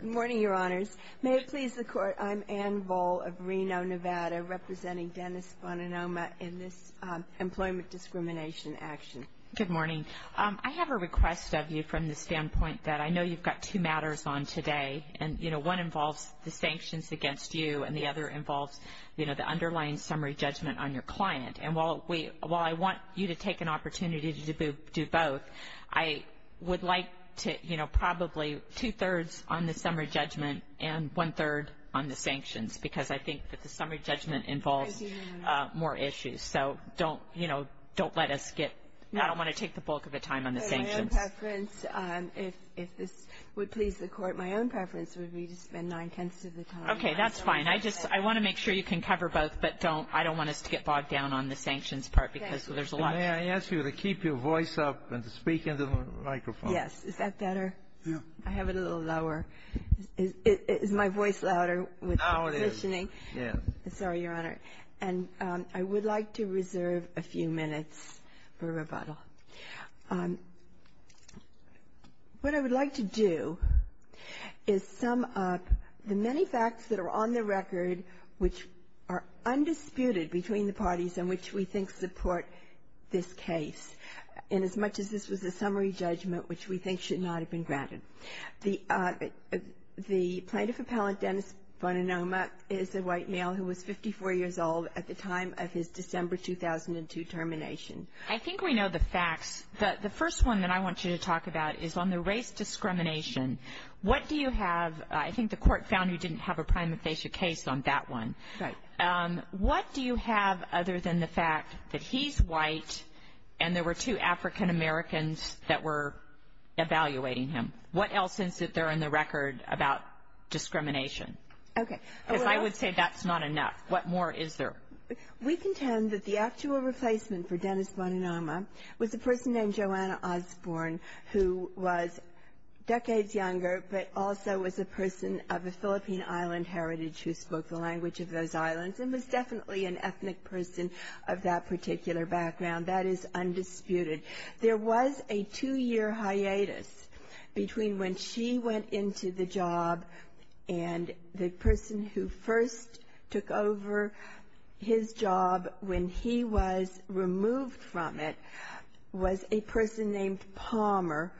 Good morning, Your Honors. May it please the Court, I'm Ann Voll of Reno, Nevada, representing Dennis Bonanoma in this employment discrimination action. Good morning. I have a request of you from the standpoint that I know you've got two matters on today, and one involves the sanctions against you and the other involves the underlying summary judgment on your client. And while I want you to take an opportunity to do both, I would like to, you know, probably two-thirds on the summary judgment and one-third on the sanctions, because I think that the summary judgment involves more issues. So don't, you know, don't let us get – I don't want to take the bulk of the time on the sanctions. But my own preference, if this would please the Court, my own preference would be to spend nine-tenths of the time. Okay, that's fine. I just – I want to make sure you can cover both, but don't – I don't want us to get bogged down on the sanctions part because there's a lot. May I ask you to keep your voice up and to speak into the microphone? Yes. Is that better? Yeah. I have it a little lower. Is my voice louder with the positioning? Now it is. Yes. Sorry, Your Honor. And I would like to reserve a few minutes for rebuttal. What I would like to do is sum up the many facts that are on the record which are undisputed between the parties in which we think support this case, inasmuch as this was a summary judgment which we think should not have been granted. The plaintiff appellant, Dennis Boninoma, is a white male who was 54 years old at the time of his December 2002 termination. I think we know the facts. The first one that I want you to talk about is on the race discrimination. What do you have – I think the court found you didn't have a prima facie case on that one. Right. What do you have other than the fact that he's white and there were two African Americans that were evaluating him? What else is there in the record about discrimination? Okay. Because I would say that's not enough. What more is there? We contend that the actual replacement for Dennis Boninoma was a person named Joanna Osborne who was decades younger, but also was a person of a Philippine island heritage who spoke the language of those islands and was definitely an ethnic person of that particular background. That is undisputed. There was a two-year hiatus between when she went into the job and the person who first took over his job when he was removed from it was a person named Palmer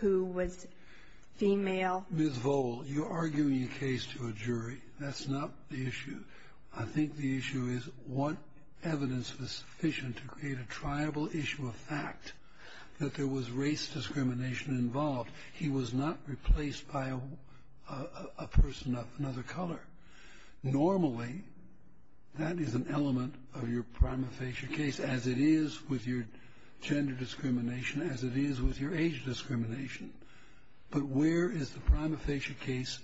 who was female. Ms. Vole, you're arguing a case to a jury. That's not the issue. I think the issue is what evidence was sufficient to create a triable issue of fact that there was race discrimination involved. He was not replaced by a person of another color. Normally, that is an element of your prima facie case, as it is with your gender discrimination, as it is with your age discrimination. But where is the prima facie case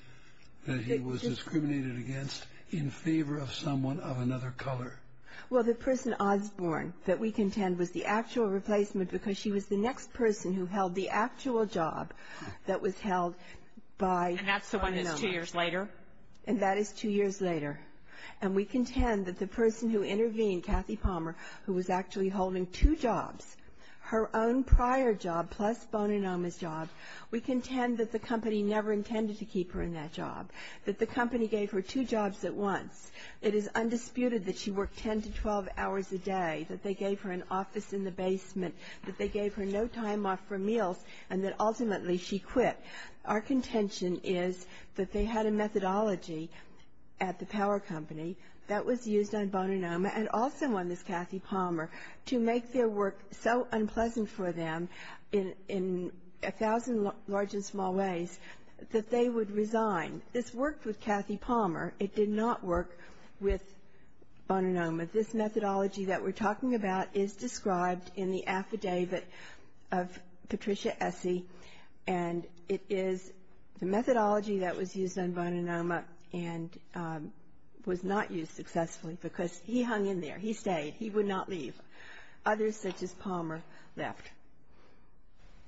that he was discriminated against in favor of someone of another color? Well, the person Osborne that we contend was the actual replacement because she was the next person who held the actual job that was held by Boninoma. And that's the one that's two years later? And that is two years later. And we contend that the person who intervened, Kathy Palmer, who was actually holding two jobs, her own prior job plus Boninoma's job, we contend that the company never intended to keep her in that job, that the company gave her two jobs at once. It is undisputed that she worked 10 to 12 hours a day, that they gave her an office in the basement, that they gave her no time off for meals, and that ultimately she quit. Our contention is that they had a methodology at the power company that was used on Boninoma and also on this Kathy Palmer to make their work so unpleasant for them in a thousand large and small ways that they would resign. This worked with Kathy Palmer. It did not work with Boninoma. This methodology that we're talking about is described in the affidavit of Patricia Essie, and it is the methodology that was used on Boninoma and was not used successfully because he hung in there. He stayed. He would not leave. Others, such as Palmer, left.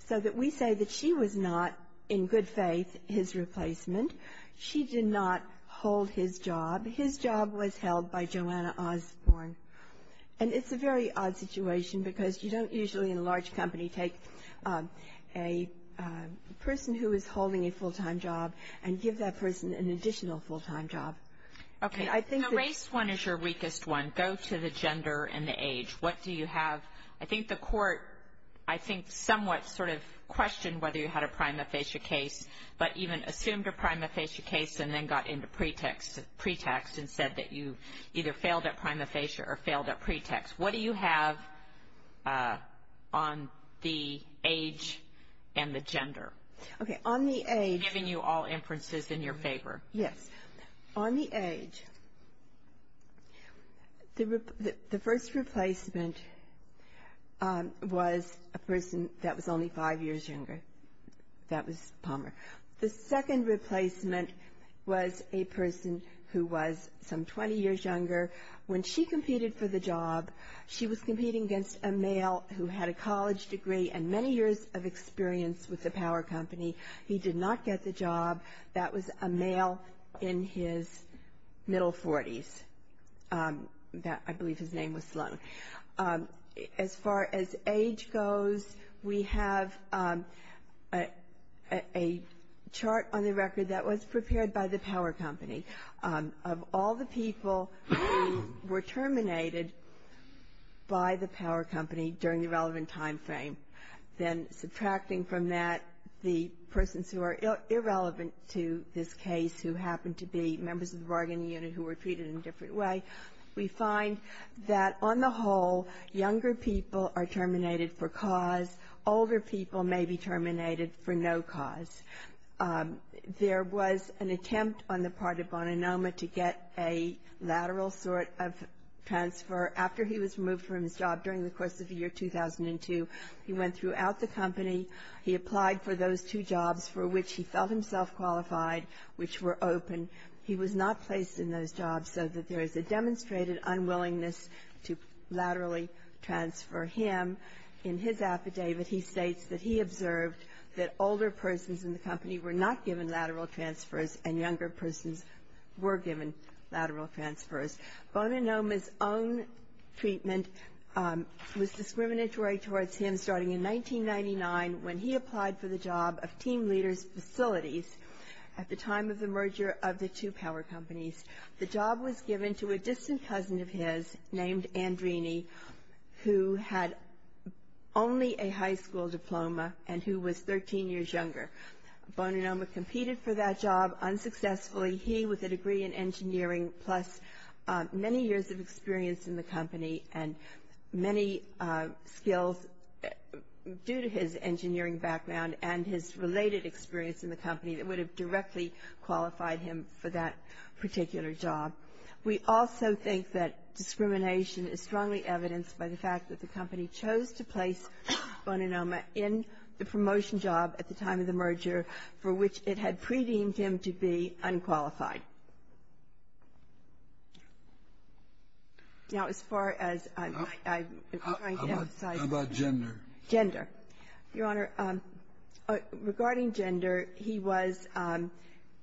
So that we say that she was not, in good faith, his replacement. She did not hold his job. His job was held by Joanna Osborn, and it's a very odd situation because you don't usually in a large company take a person who is holding a full-time job and give that person an additional full-time job. Okay. Race one is your weakest one. Go to the gender and the age. What do you have? I think the court, I think, somewhat sort of questioned whether you had a prima facie case, but even assumed a prima facie case and then got into pretext and said that you either failed at prima facie or failed at pretext. What do you have on the age and the gender? Okay. On the age. I'm giving you all inferences in your favor. Yes. On the age, the first replacement was a person that was only five years younger. That was Palmer. The second replacement was a person who was some 20 years younger. When she competed for the job, she was competing against a male who had a college degree and many years of experience with the power company. He did not get the job. That was a male in his middle 40s. I believe his name was Sloan. As far as age goes, we have a chart on the record that was prepared by the power company. Of all the people who were terminated by the power company during the relevant timeframe, then subtracting from that the persons who are irrelevant to this case who happened to be members of the bargaining unit who were treated in a different way, we find that on the whole, younger people are terminated for cause. Older people may be terminated for no cause. There was an attempt on the part of Boninoma to get a lateral sort of transfer. After he was removed from his job during the course of the year 2002, he went throughout the company. He applied for those two jobs for which he felt himself qualified, which were open. He was not placed in those jobs so that there is a demonstrated unwillingness to laterally transfer him. In his affidavit, he states that he observed that older persons in the company were not given lateral transfers and younger persons were given lateral transfers. Boninoma's own treatment was discriminatory towards him starting in 1999 when he applied for the job of team leader's facilities at the time of the merger of the two power companies. The job was given to a distant cousin of his named Andrini who had only a high school diploma and who was 13 years younger. Boninoma competed for that job unsuccessfully. He, with a degree in engineering plus many years of experience in the company and many skills due to his engineering background and his related experience in the company, would have directly qualified him for that particular job. We also think that discrimination is strongly evidenced by the fact that the company chose to place Boninoma in the promotion job at the time of the merger for which it had pre-deemed him to be unqualified. Now, as far as I'm trying to emphasize here. How about gender? Gender. Your Honor, regarding gender, he was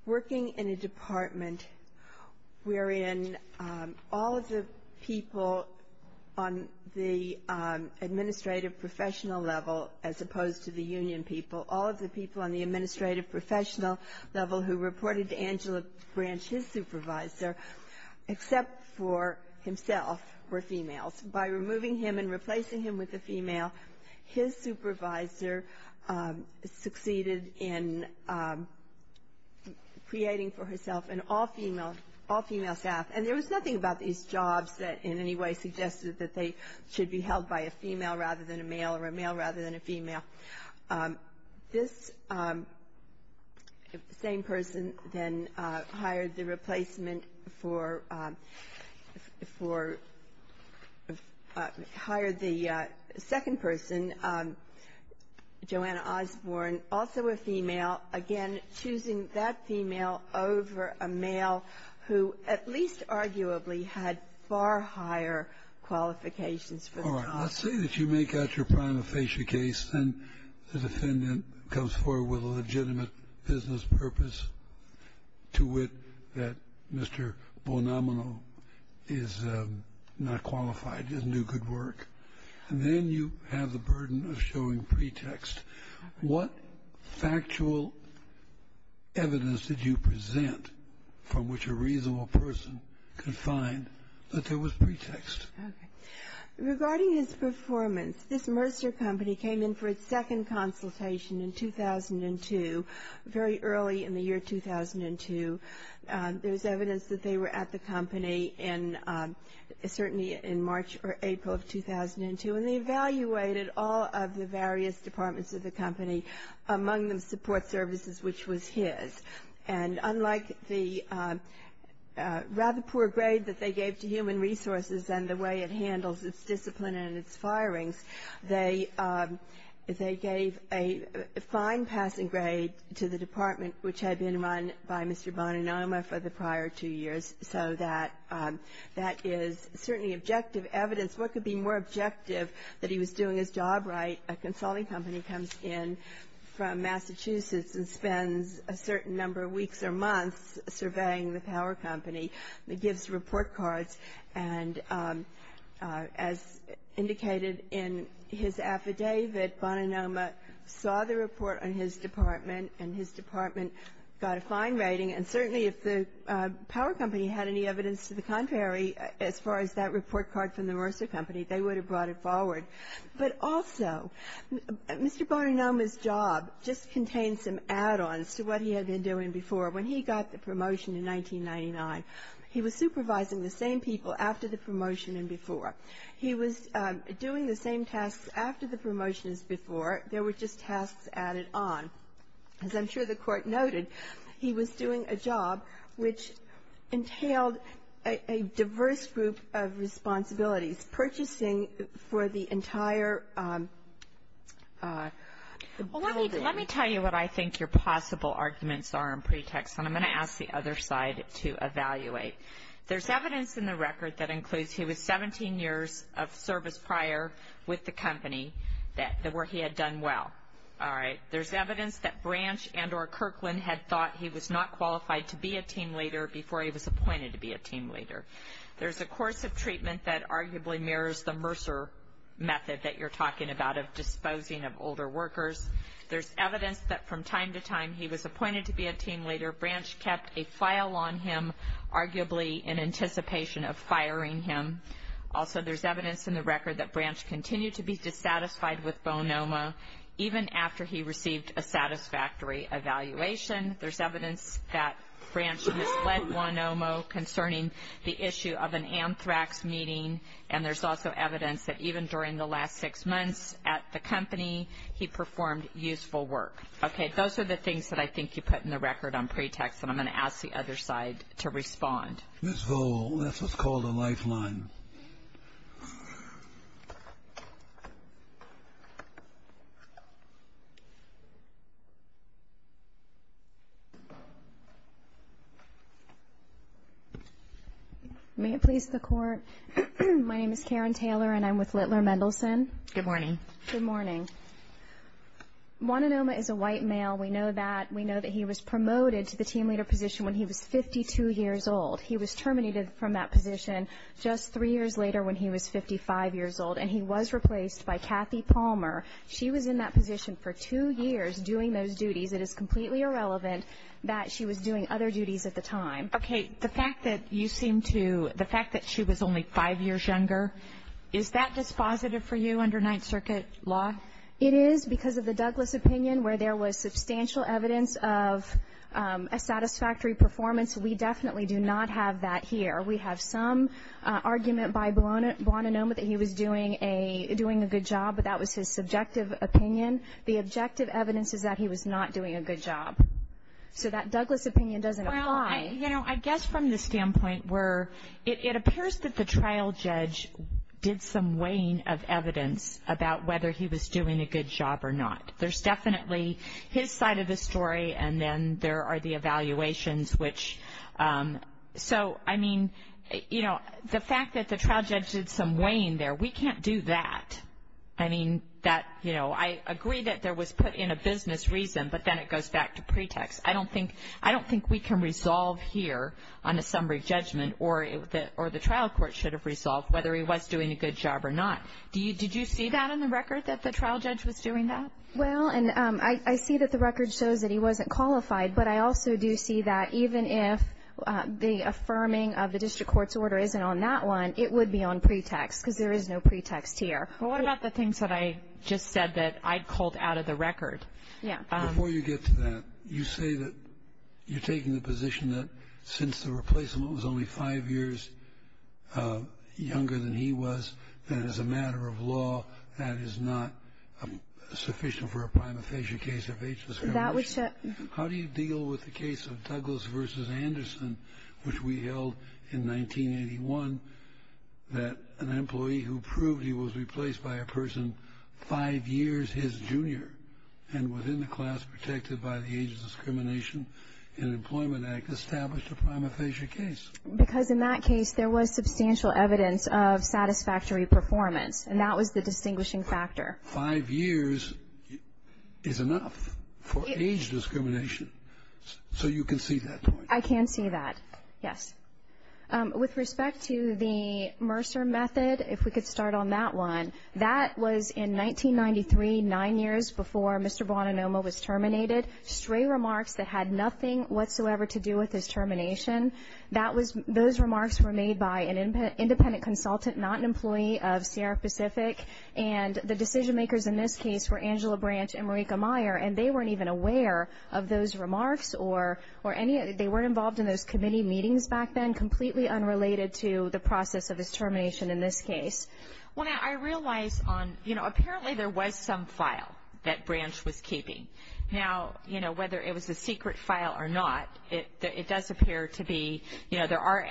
working in a department wherein all of the people on the administrative professional level, as opposed to the union people, all of the people on the administrative professional level who reported to Angela Branch, his supervisor, except for himself, were females. By removing him and replacing him with a female, his supervisor succeeded in creating for herself an all-female staff. And there was nothing about these jobs that in any way suggested that they should be held by a female rather than a male or a male rather than a female. This same person then hired the replacement for, hired the second person, Joanna Osborne, also a female. Again, choosing that female over a male who at least arguably had far higher qualifications for the job. All right. Let's say that you make out your prima facie case and the defendant comes forward with a legitimate business purpose to wit that Mr. Bonomino is not qualified, doesn't do good work. And then you have the burden of showing pretext. What factual evidence did you present from which a reasonable person could find that there was pretext? Okay. Regarding his performance, this Mercer Company came in for its second consultation in 2002, very early in the year 2002. There's evidence that they were at the company certainly in March or April of 2002. And they evaluated all of the various departments of the company, among them support services, which was his. And unlike the rather poor grade that they gave to human resources and the way it handles its discipline and its firings, they gave a fine passing grade to the department, which had been run by Mr. Boninoma for the prior two years. So that is certainly objective evidence. What could be more objective that he was doing his job right? A consulting company comes in from Massachusetts and spends a certain number of weeks or months surveying the power company. It gives report cards. And as indicated in his affidavit, Boninoma saw the report on his department, and his department got a fine rating. And certainly if the power company had any evidence to the contrary as far as that report card from the Mercer Company, they would have brought it forward. But also, Mr. Boninoma's job just contained some add-ons to what he had been doing before. When he got the promotion in 1999, he was supervising the same people after the promotion and before. He was doing the same tasks after the promotion as before. There were just tasks added on. As I'm sure the Court noted, he was doing a job which entailed a diverse group of responsibilities, purchasing for the entire building. Well, let me tell you what I think your possible arguments are in pretext, and I'm going to ask the other side to evaluate. There's evidence in the record that includes he was 17 years of service prior with the company that the work he had done well. All right. There's evidence that Branch and or Kirkland had thought he was not qualified to be a team leader before he was appointed to be a team leader. There's a course of treatment that arguably mirrors the Mercer method that you're talking about of disposing of older workers. There's evidence that from time to time he was appointed to be a team leader. Branch kept a file on him, arguably in anticipation of firing him. Also, there's evidence in the record that Branch continued to be dissatisfied with Bonomo even after he received a satisfactory evaluation. There's evidence that Branch misled Bonomo concerning the issue of an anthrax meeting, and there's also evidence that even during the last six months at the company, he performed useful work. Okay. Those are the things that I think you put in the record on pretext, and I'm going to ask the other side to respond. Ms. Vole, that's what's called a lifeline. May it please the Court. My name is Karen Taylor, and I'm with Littler Mendelsohn. Good morning. Good morning. Bonomo is a white male. We know that. We know that he was promoted to the team leader position when he was 52 years old. He was terminated from that position just three years later when he was 55 years old, and he was replaced by Kathy Palmer. She was in that position for two years doing those duties. It is completely irrelevant that she was doing other duties at the time. Okay. The fact that you seem to the fact that she was only five years younger, is that dispositive for you under Ninth Circuit law? It is because of the Douglas opinion where there was substantial evidence of a satisfactory performance. We definitely do not have that here. We have some argument by Bonomo that he was doing a good job, but that was his subjective opinion. The objective evidence is that he was not doing a good job. So that Douglas opinion doesn't apply. You know, I guess from the standpoint where it appears that the trial judge did some weighing of evidence about whether he was doing a good job or not. There's definitely his side of the story, and then there are the evaluations, which so, I mean, you know, the fact that the trial judge did some weighing there, we can't do that. I mean, that, you know, I agree that there was put in a business reason, but then it goes back to pretext. I don't think we can resolve here on a summary judgment, or the trial court should have resolved whether he was doing a good job or not. Did you see that in the record, that the trial judge was doing that? Well, and I see that the record shows that he wasn't qualified, but I also do see that even if the affirming of the district court's order isn't on that one, it would be on pretext, because there is no pretext here. Well, what about the things that I just said that I'd called out of the record? Yeah. Before you get to that, you say that you're taking the position that since the replacement was only five years younger than he was, that as a matter of law, that is not sufficient for a prima facie case of age discrimination. How do you deal with the case of Douglas v. Anderson, which we held in 1981, that an employee who proved he was replaced by a person five years his junior and was in the class protected by the Age Discrimination in Employment Act established a prima facie case? Because in that case, there was substantial evidence of satisfactory performance, and that was the distinguishing factor. Five years is enough for age discrimination, so you can see that point. I can see that, yes. With respect to the Mercer method, if we could start on that one, that was in 1993, nine years before Mr. Boninoma was terminated. Stray remarks that had nothing whatsoever to do with his termination, those remarks were made by an independent consultant, not an employee of Sierra Pacific, and the decision makers in this case were Angela Branch and Marika Meyer, and they weren't even aware of those remarks or any of it. They weren't involved in those committee meetings back then, completely unrelated to the process of his termination in this case. Well, I realize on, you know, apparently there was some file that Branch was keeping. Now, you know, whether it was a secret file or not, it does appear to be, you know, there are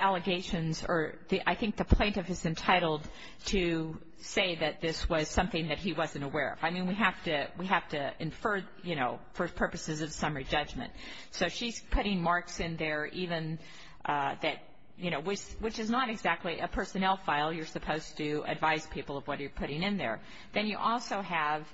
allegations or I think the plaintiff is entitled to say that this was something that he wasn't aware of. I mean, we have to infer, you know, for purposes of summary judgment. So she's putting marks in there even that, you know, which is not exactly a personnel file. You're supposed to advise people of what you're putting in there. Then you also have,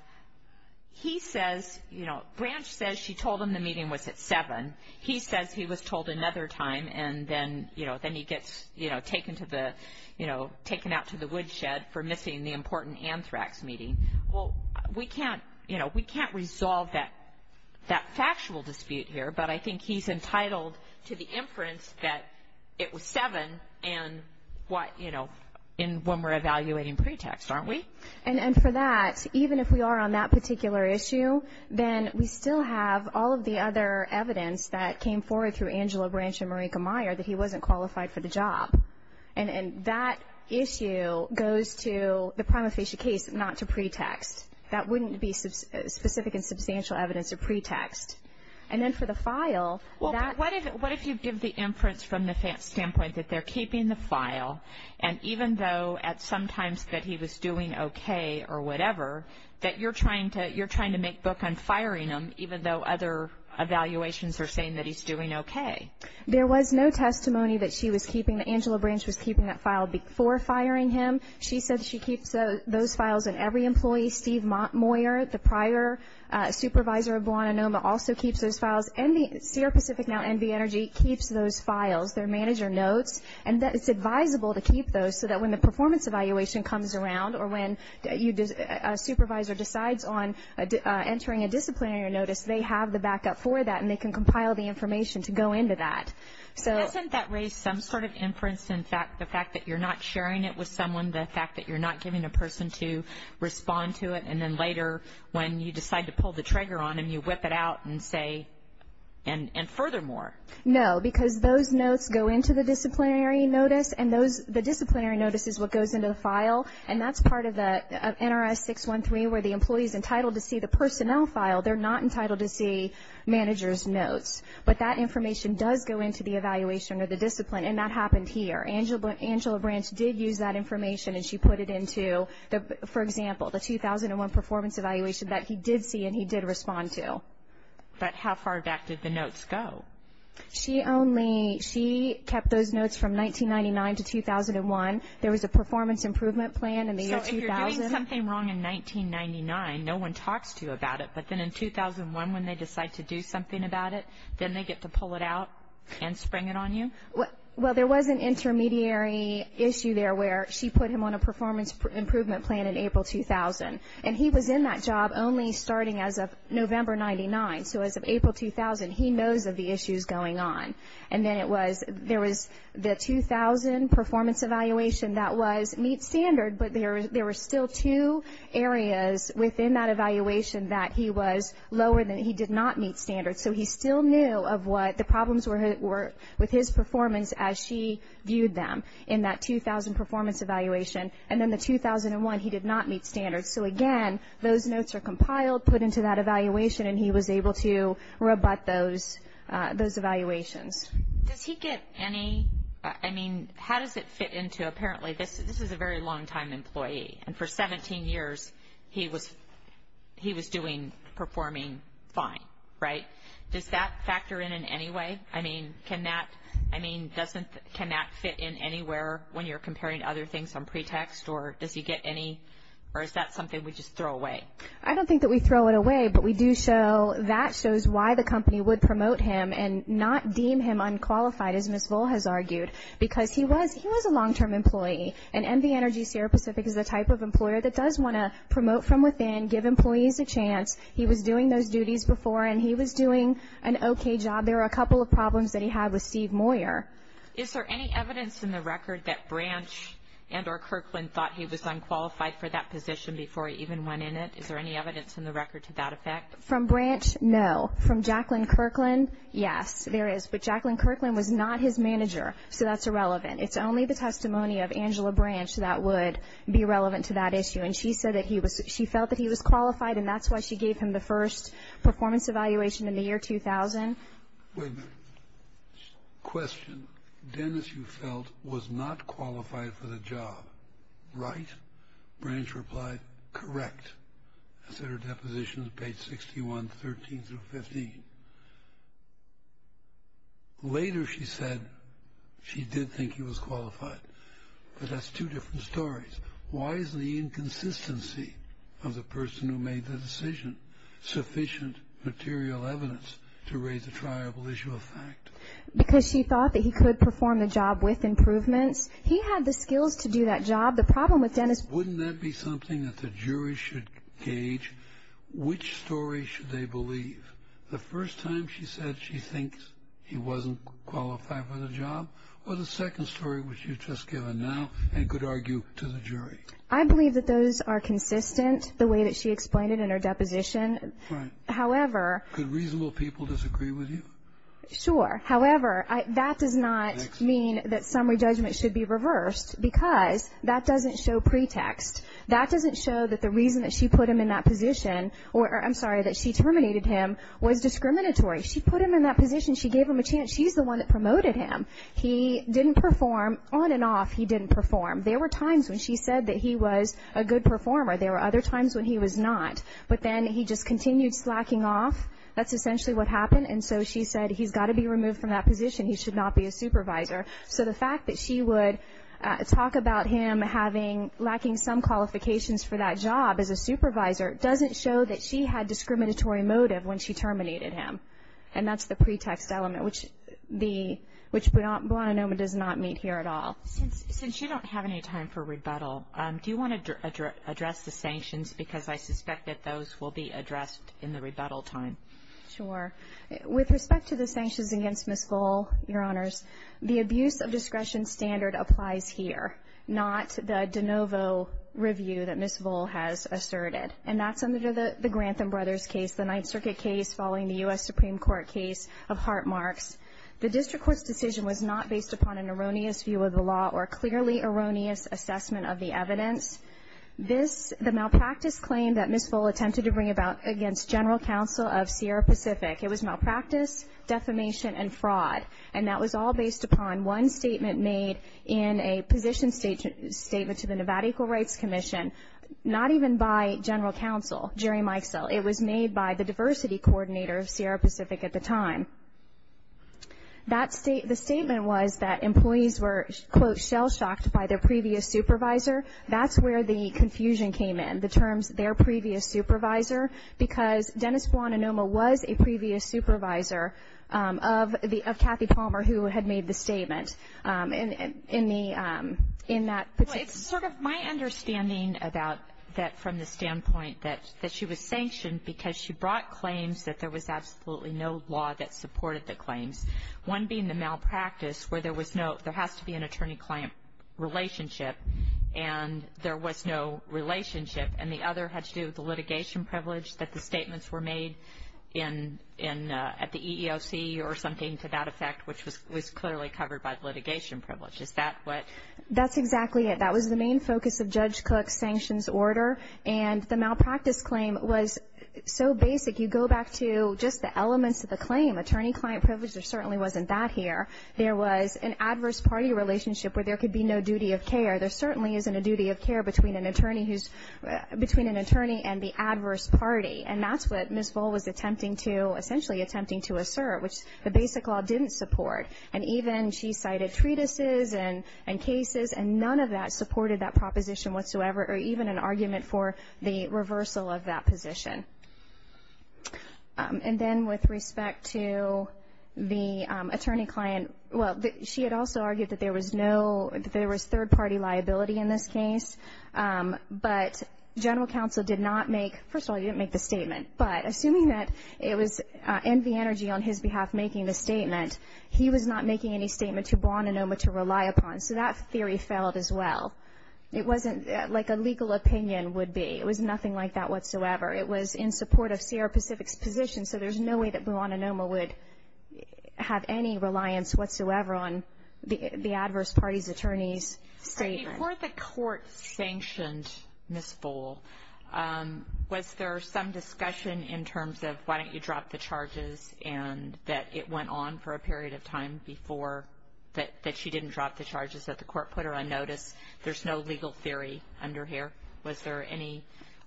he says, you know, Branch says she told him the meeting was at 7. He says he was told another time, and then, you know, then he gets, you know, taken to the, you know, taken out to the woodshed for missing the important anthrax meeting. Well, we can't, you know, we can't resolve that factual dispute here, but I think he's entitled to the inference that it was 7 and what, you know, when we're evaluating pretext, aren't we? And for that, even if we are on that particular issue, then we still have all of the other evidence that came forward through Angela Branch and Marika Meyer that he wasn't qualified for the job. And that issue goes to the prima facie case, not to pretext. That wouldn't be specific and substantial evidence of pretext. And then for the file, that – Well, what if you give the inference from the standpoint that they're keeping the file, and even though at some times that he was doing okay or whatever, that you're trying to make book on firing him even though other evaluations are saying that he's doing okay? There was no testimony that she was keeping. Angela Branch was keeping that file before firing him. She said she keeps those files in every employee. Steve Moyer, the prior supervisor of Blahnanoma, also keeps those files. And the CR Pacific, now NV Energy, keeps those files. Their manager notes. And it's advisable to keep those so that when the performance evaluation comes around or when a supervisor decides on entering a disciplinary notice, they have the backup for that and they can compile the information to go into that. Doesn't that raise some sort of inference? In fact, the fact that you're not sharing it with someone, the fact that you're not giving a person to respond to it, and then later when you decide to pull the trigger on him, you whip it out and say – and furthermore. No, because those notes go into the disciplinary notice, and the disciplinary notice is what goes into the file. And that's part of NRS 613 where the employee is entitled to see the personnel file. They're not entitled to see manager's notes. But that information does go into the evaluation or the discipline, and that happened here. Angela Branch did use that information, and she put it into, for example, the 2001 performance evaluation that he did see and he did respond to. But how far back did the notes go? She kept those notes from 1999 to 2001. There was a performance improvement plan in the year 2000. If you're doing something wrong in 1999, no one talks to you about it, but then in 2001 when they decide to do something about it, then they get to pull it out and spring it on you? Well, there was an intermediary issue there where she put him on a performance improvement plan in April 2000, and he was in that job only starting as of November 99. So as of April 2000, he knows of the issues going on. And then it was – there was the 2000 performance evaluation that was meet standard, but there were still two areas within that evaluation that he was lower than – he did not meet standard. So he still knew of what the problems were with his performance as she viewed them in that 2000 performance evaluation. And then the 2001, he did not meet standard. So, again, those notes are compiled, put into that evaluation, and he was able to rebut those evaluations. Does he get any – I mean, how does it fit into – And for 17 years, he was doing – performing fine, right? Does that factor in in any way? I mean, can that – I mean, doesn't – can that fit in anywhere when you're comparing other things on pretext? Or does he get any – or is that something we just throw away? I don't think that we throw it away, but we do show – that shows why the company would promote him and not deem him unqualified, as Ms. Vole has argued, because he was – he was a long-term employee. And MV Energy Sierra Pacific is the type of employer that does want to promote from within, give employees a chance. He was doing those duties before, and he was doing an okay job. There were a couple of problems that he had with Steve Moyer. Is there any evidence in the record that Branch and or Kirkland thought he was unqualified for that position before he even went in it? Is there any evidence in the record to that effect? From Branch, no. From Jacqueline Kirkland, yes, there is. But Jacqueline Kirkland was not his manager, so that's irrelevant. It's only the testimony of Angela Branch that would be relevant to that issue. And she said that he was – she felt that he was qualified, and that's why she gave him the first performance evaluation in the year 2000. Wait a minute. Question. Dennis, you felt, was not qualified for the job, right? Branch replied, correct. That's in her depositions, page 61, 13 through 15. Later she said she did think he was qualified, but that's two different stories. Why is the inconsistency of the person who made the decision sufficient material evidence to raise a triable issue of fact? Because she thought that he could perform the job with improvements. He had the skills to do that job. The problem with Dennis – Wouldn't that be something that the jury should gauge? Which story should they believe? The first time she said she thinks he wasn't qualified for the job, or the second story which you've just given now and could argue to the jury? I believe that those are consistent, the way that she explained it in her deposition. Right. However – Could reasonable people disagree with you? Sure. However, that does not mean that summary judgment should be reversed because that doesn't show pretext. That doesn't show that the reason that she put him in that position – I'm sorry, that she terminated him was discriminatory. She put him in that position. She gave him a chance. She's the one that promoted him. He didn't perform. On and off he didn't perform. There were times when she said that he was a good performer. There were other times when he was not. But then he just continued slacking off. That's essentially what happened. And so she said he's got to be removed from that position. He should not be a supervisor. So the fact that she would talk about him lacking some qualifications for that job as a supervisor doesn't show that she had discriminatory motive when she terminated him. And that's the pretext element, which Buona Noma does not meet here at all. Since you don't have any time for rebuttal, do you want to address the sanctions? Because I suspect that those will be addressed in the rebuttal time. Sure. With respect to the sanctions against Ms. Voel, Your Honors, the abuse of discretion standard applies here, not the de novo review that Ms. Voel has asserted. And that's under the Grantham Brothers case, the Ninth Circuit case, following the U.S. Supreme Court case of Hart-Marx. The district court's decision was not based upon an erroneous view of the law or clearly erroneous assessment of the evidence. The malpractice claim that Ms. Voel attempted to bring about against general counsel of Sierra Pacific, it was malpractice, defamation, and fraud. And that was all based upon one statement made in a position statement to the Nevada Equal Rights Commission, not even by general counsel, Jerry Mikesell. It was made by the diversity coordinator of Sierra Pacific at the time. The statement was that employees were, quote, shell-shocked by their previous supervisor. That's where the confusion came in, the terms their previous supervisor, because Dennis Buona Noma was a previous supervisor of Kathy Palmer, who had made the statement. In that particular case. Well, it's sort of my understanding about that from the standpoint that she was sanctioned because she brought claims that there was absolutely no law that supported the claims, one being the malpractice where there has to be an attorney-client relationship, and there was no relationship. And the other had to do with the litigation privilege that the statements were made at the EEOC or something to that effect, which was clearly covered by litigation privilege. Is that what? That's exactly it. That was the main focus of Judge Cook's sanctions order. And the malpractice claim was so basic, you go back to just the elements of the claim, attorney-client privilege, there certainly wasn't that here. There was an adverse party relationship where there could be no duty of care. There certainly isn't a duty of care between an attorney and the adverse party. And that's what Ms. Voll was attempting to, essentially attempting to assert, which the basic law didn't support. And even she cited treatises and cases, and none of that supported that proposition whatsoever, or even an argument for the reversal of that position. And then with respect to the attorney-client, well, she had also argued that there was no, that there was third-party liability in this case. But General Counsel did not make, first of all, he didn't make the statement, but assuming that it was NV Energy on his behalf making the statement, he was not making any statement to Buonanoma to rely upon. So that theory failed as well. It wasn't like a legal opinion would be. It was nothing like that whatsoever. It was in support of Sierra Pacific's position, so there's no way that Buonanoma would have any reliance whatsoever on the adverse party's attorney's statement. Before the court sanctioned Ms. Voll, was there some discussion in terms of why don't you drop the charges and that it went on for a period of time before that she didn't drop the charges that the court put her on notice? There's no legal theory under here. Was there any,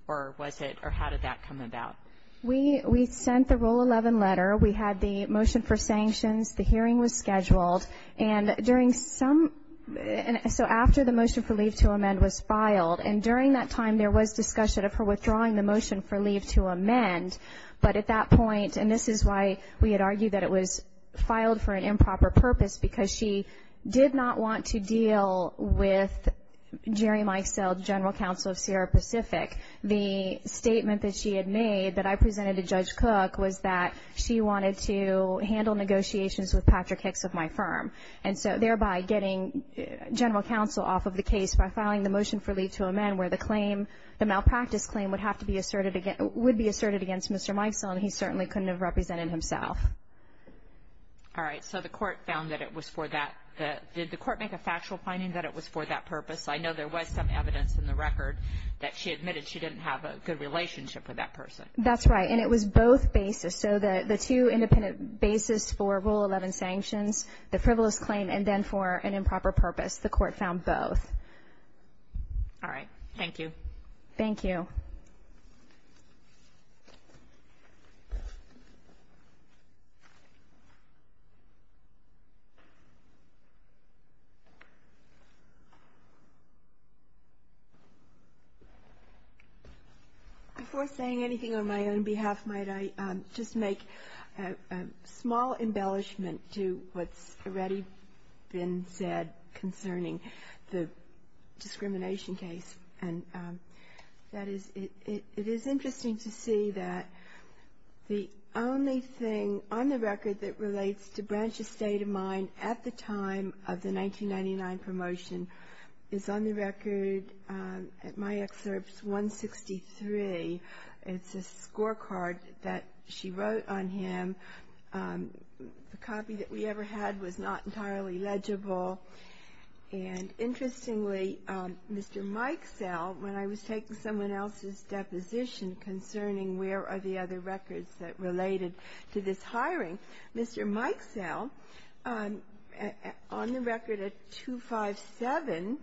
or was it, or how did that come about? We sent the Rule 11 letter. We had the motion for sanctions. The hearing was scheduled. And during some, so after the motion for leave to amend was filed, and during that time there was discussion of her withdrawing the motion for leave to amend, but at that point, and this is why we had argued that it was filed for an improper purpose because she did not want to deal with Jerry Mikesell, General Counsel of Sierra Pacific. The statement that she had made that I presented to Judge Cook was that she wanted to handle negotiations with Patrick Hicks of my firm, and so thereby getting General Counsel off of the case by filing the motion for leave to amend where the claim, the malpractice claim would have to be asserted against, would be asserted against Mr. Mikesell, and he certainly couldn't have represented himself. All right. So the court found that it was for that. Did the court make a factual finding that it was for that purpose? I know there was some evidence in the record that she admitted she didn't have a good relationship with that person. That's right. And it was both basis, so the two independent basis for Rule 11 sanctions, the frivolous claim, and then for an improper purpose. The court found both. All right. Thank you. Thank you. Thank you. Before saying anything on my own behalf, might I just make a small embellishment to what's already been said concerning the discrimination case. It is interesting to see that the only thing on the record that relates to Branch's state of mind at the time of the 1999 promotion is on the record at my excerpts 163. It's a scorecard that she wrote on him. The copy that we ever had was not entirely legible. And interestingly, Mr. Mikesell, when I was taking someone else's deposition concerning where are the other records that related to this hiring, Mr. Mikesell, on the record at 257,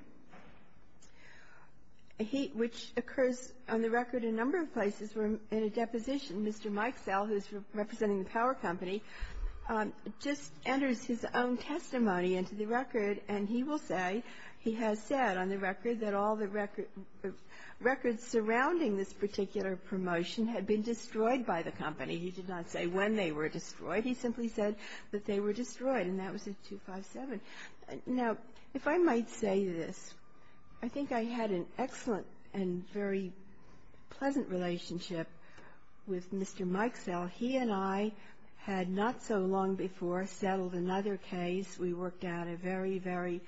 which occurs on the record in a number of places in a deposition, Mr. Mikesell, who's representing the power company, just enters his own testimony into the record, and he will say he has said on the record that all the records surrounding this particular promotion had been destroyed by the company. He did not say when they were destroyed. He simply said that they were destroyed, and that was at 257. Now, if I might say this, I think I had an excellent and very pleasant relationship with Mr. Mikesell. He and I had not so long before settled another case. We worked out a very, very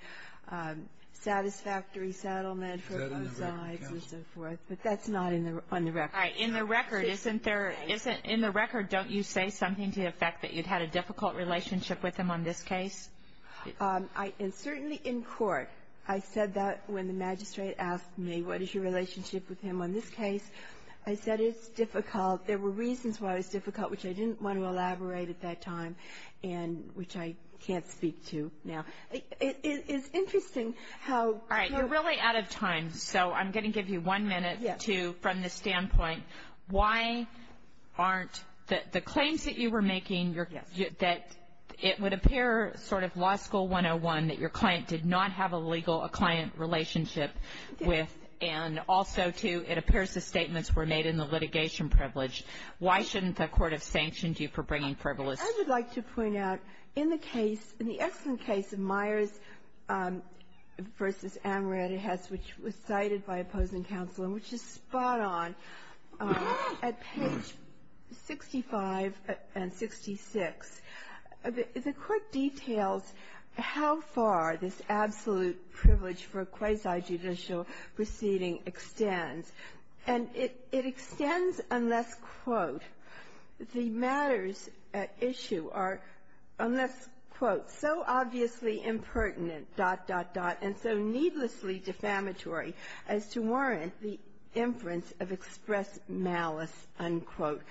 satisfactory settlement for both sides and so forth. But that's not on the record. In the record, don't you say something to the effect that you'd had a difficult relationship with him on this case? Certainly in court. I said that when the magistrate asked me, what is your relationship with him on this case? I said it's difficult. There were reasons why it was difficult, which I didn't want to elaborate at that time, and which I can't speak to now. It's interesting how- All right. You're really out of time, so I'm going to give you one minute to, from this standpoint, why aren't the claims that you were making, that it would appear sort of Law School 101, that your client did not have a legal client relationship with, and also, too, it appears the statements were made in the litigation privilege. Why shouldn't the Court have sanctioned you for bringing frivolous- I would like to point out, in the case, in the excellent case of Myers v. Amaretto Hess, which was cited by opposing counsel and which is spot on, at page 65 and 66, the Court details how far this absolute privilege for quasi-judicial proceeding extends, and it extends unless, quote, the matters at issue are, unless, quote, so obviously impertinent, dot, dot, dot, and so needlessly defamatory as to warrant the inference of express malice, unquote.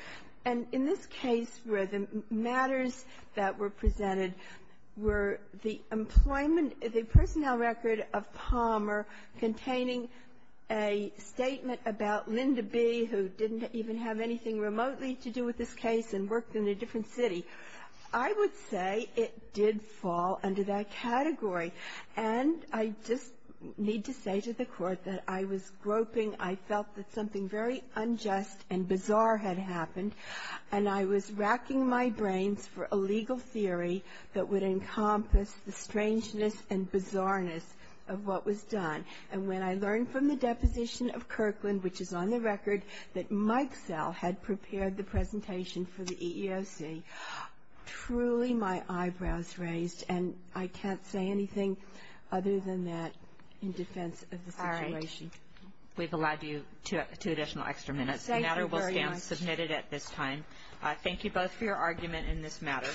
And in this case where the matters that were presented were the employment of the personnel record of Palmer containing a statement about Linda B., who didn't even have anything remotely to do with this case and worked in a different city, I would say it did fall under that category. And I just need to say to the Court that I was groping. I felt that something very unjust and bizarre had happened, and I was racking my brains for a legal theory that would encompass the strangeness and bizarreness of what was done. And when I learned from the deposition of Kirkland, which is on the record, that Mike Sell had prepared the presentation for the EEOC, truly my eyebrows raised, and I can't say anything other than that in defense of the situation. We've allowed you two additional extra minutes. The matter will stand submitted at this time. Thank you both for your argument in this matter.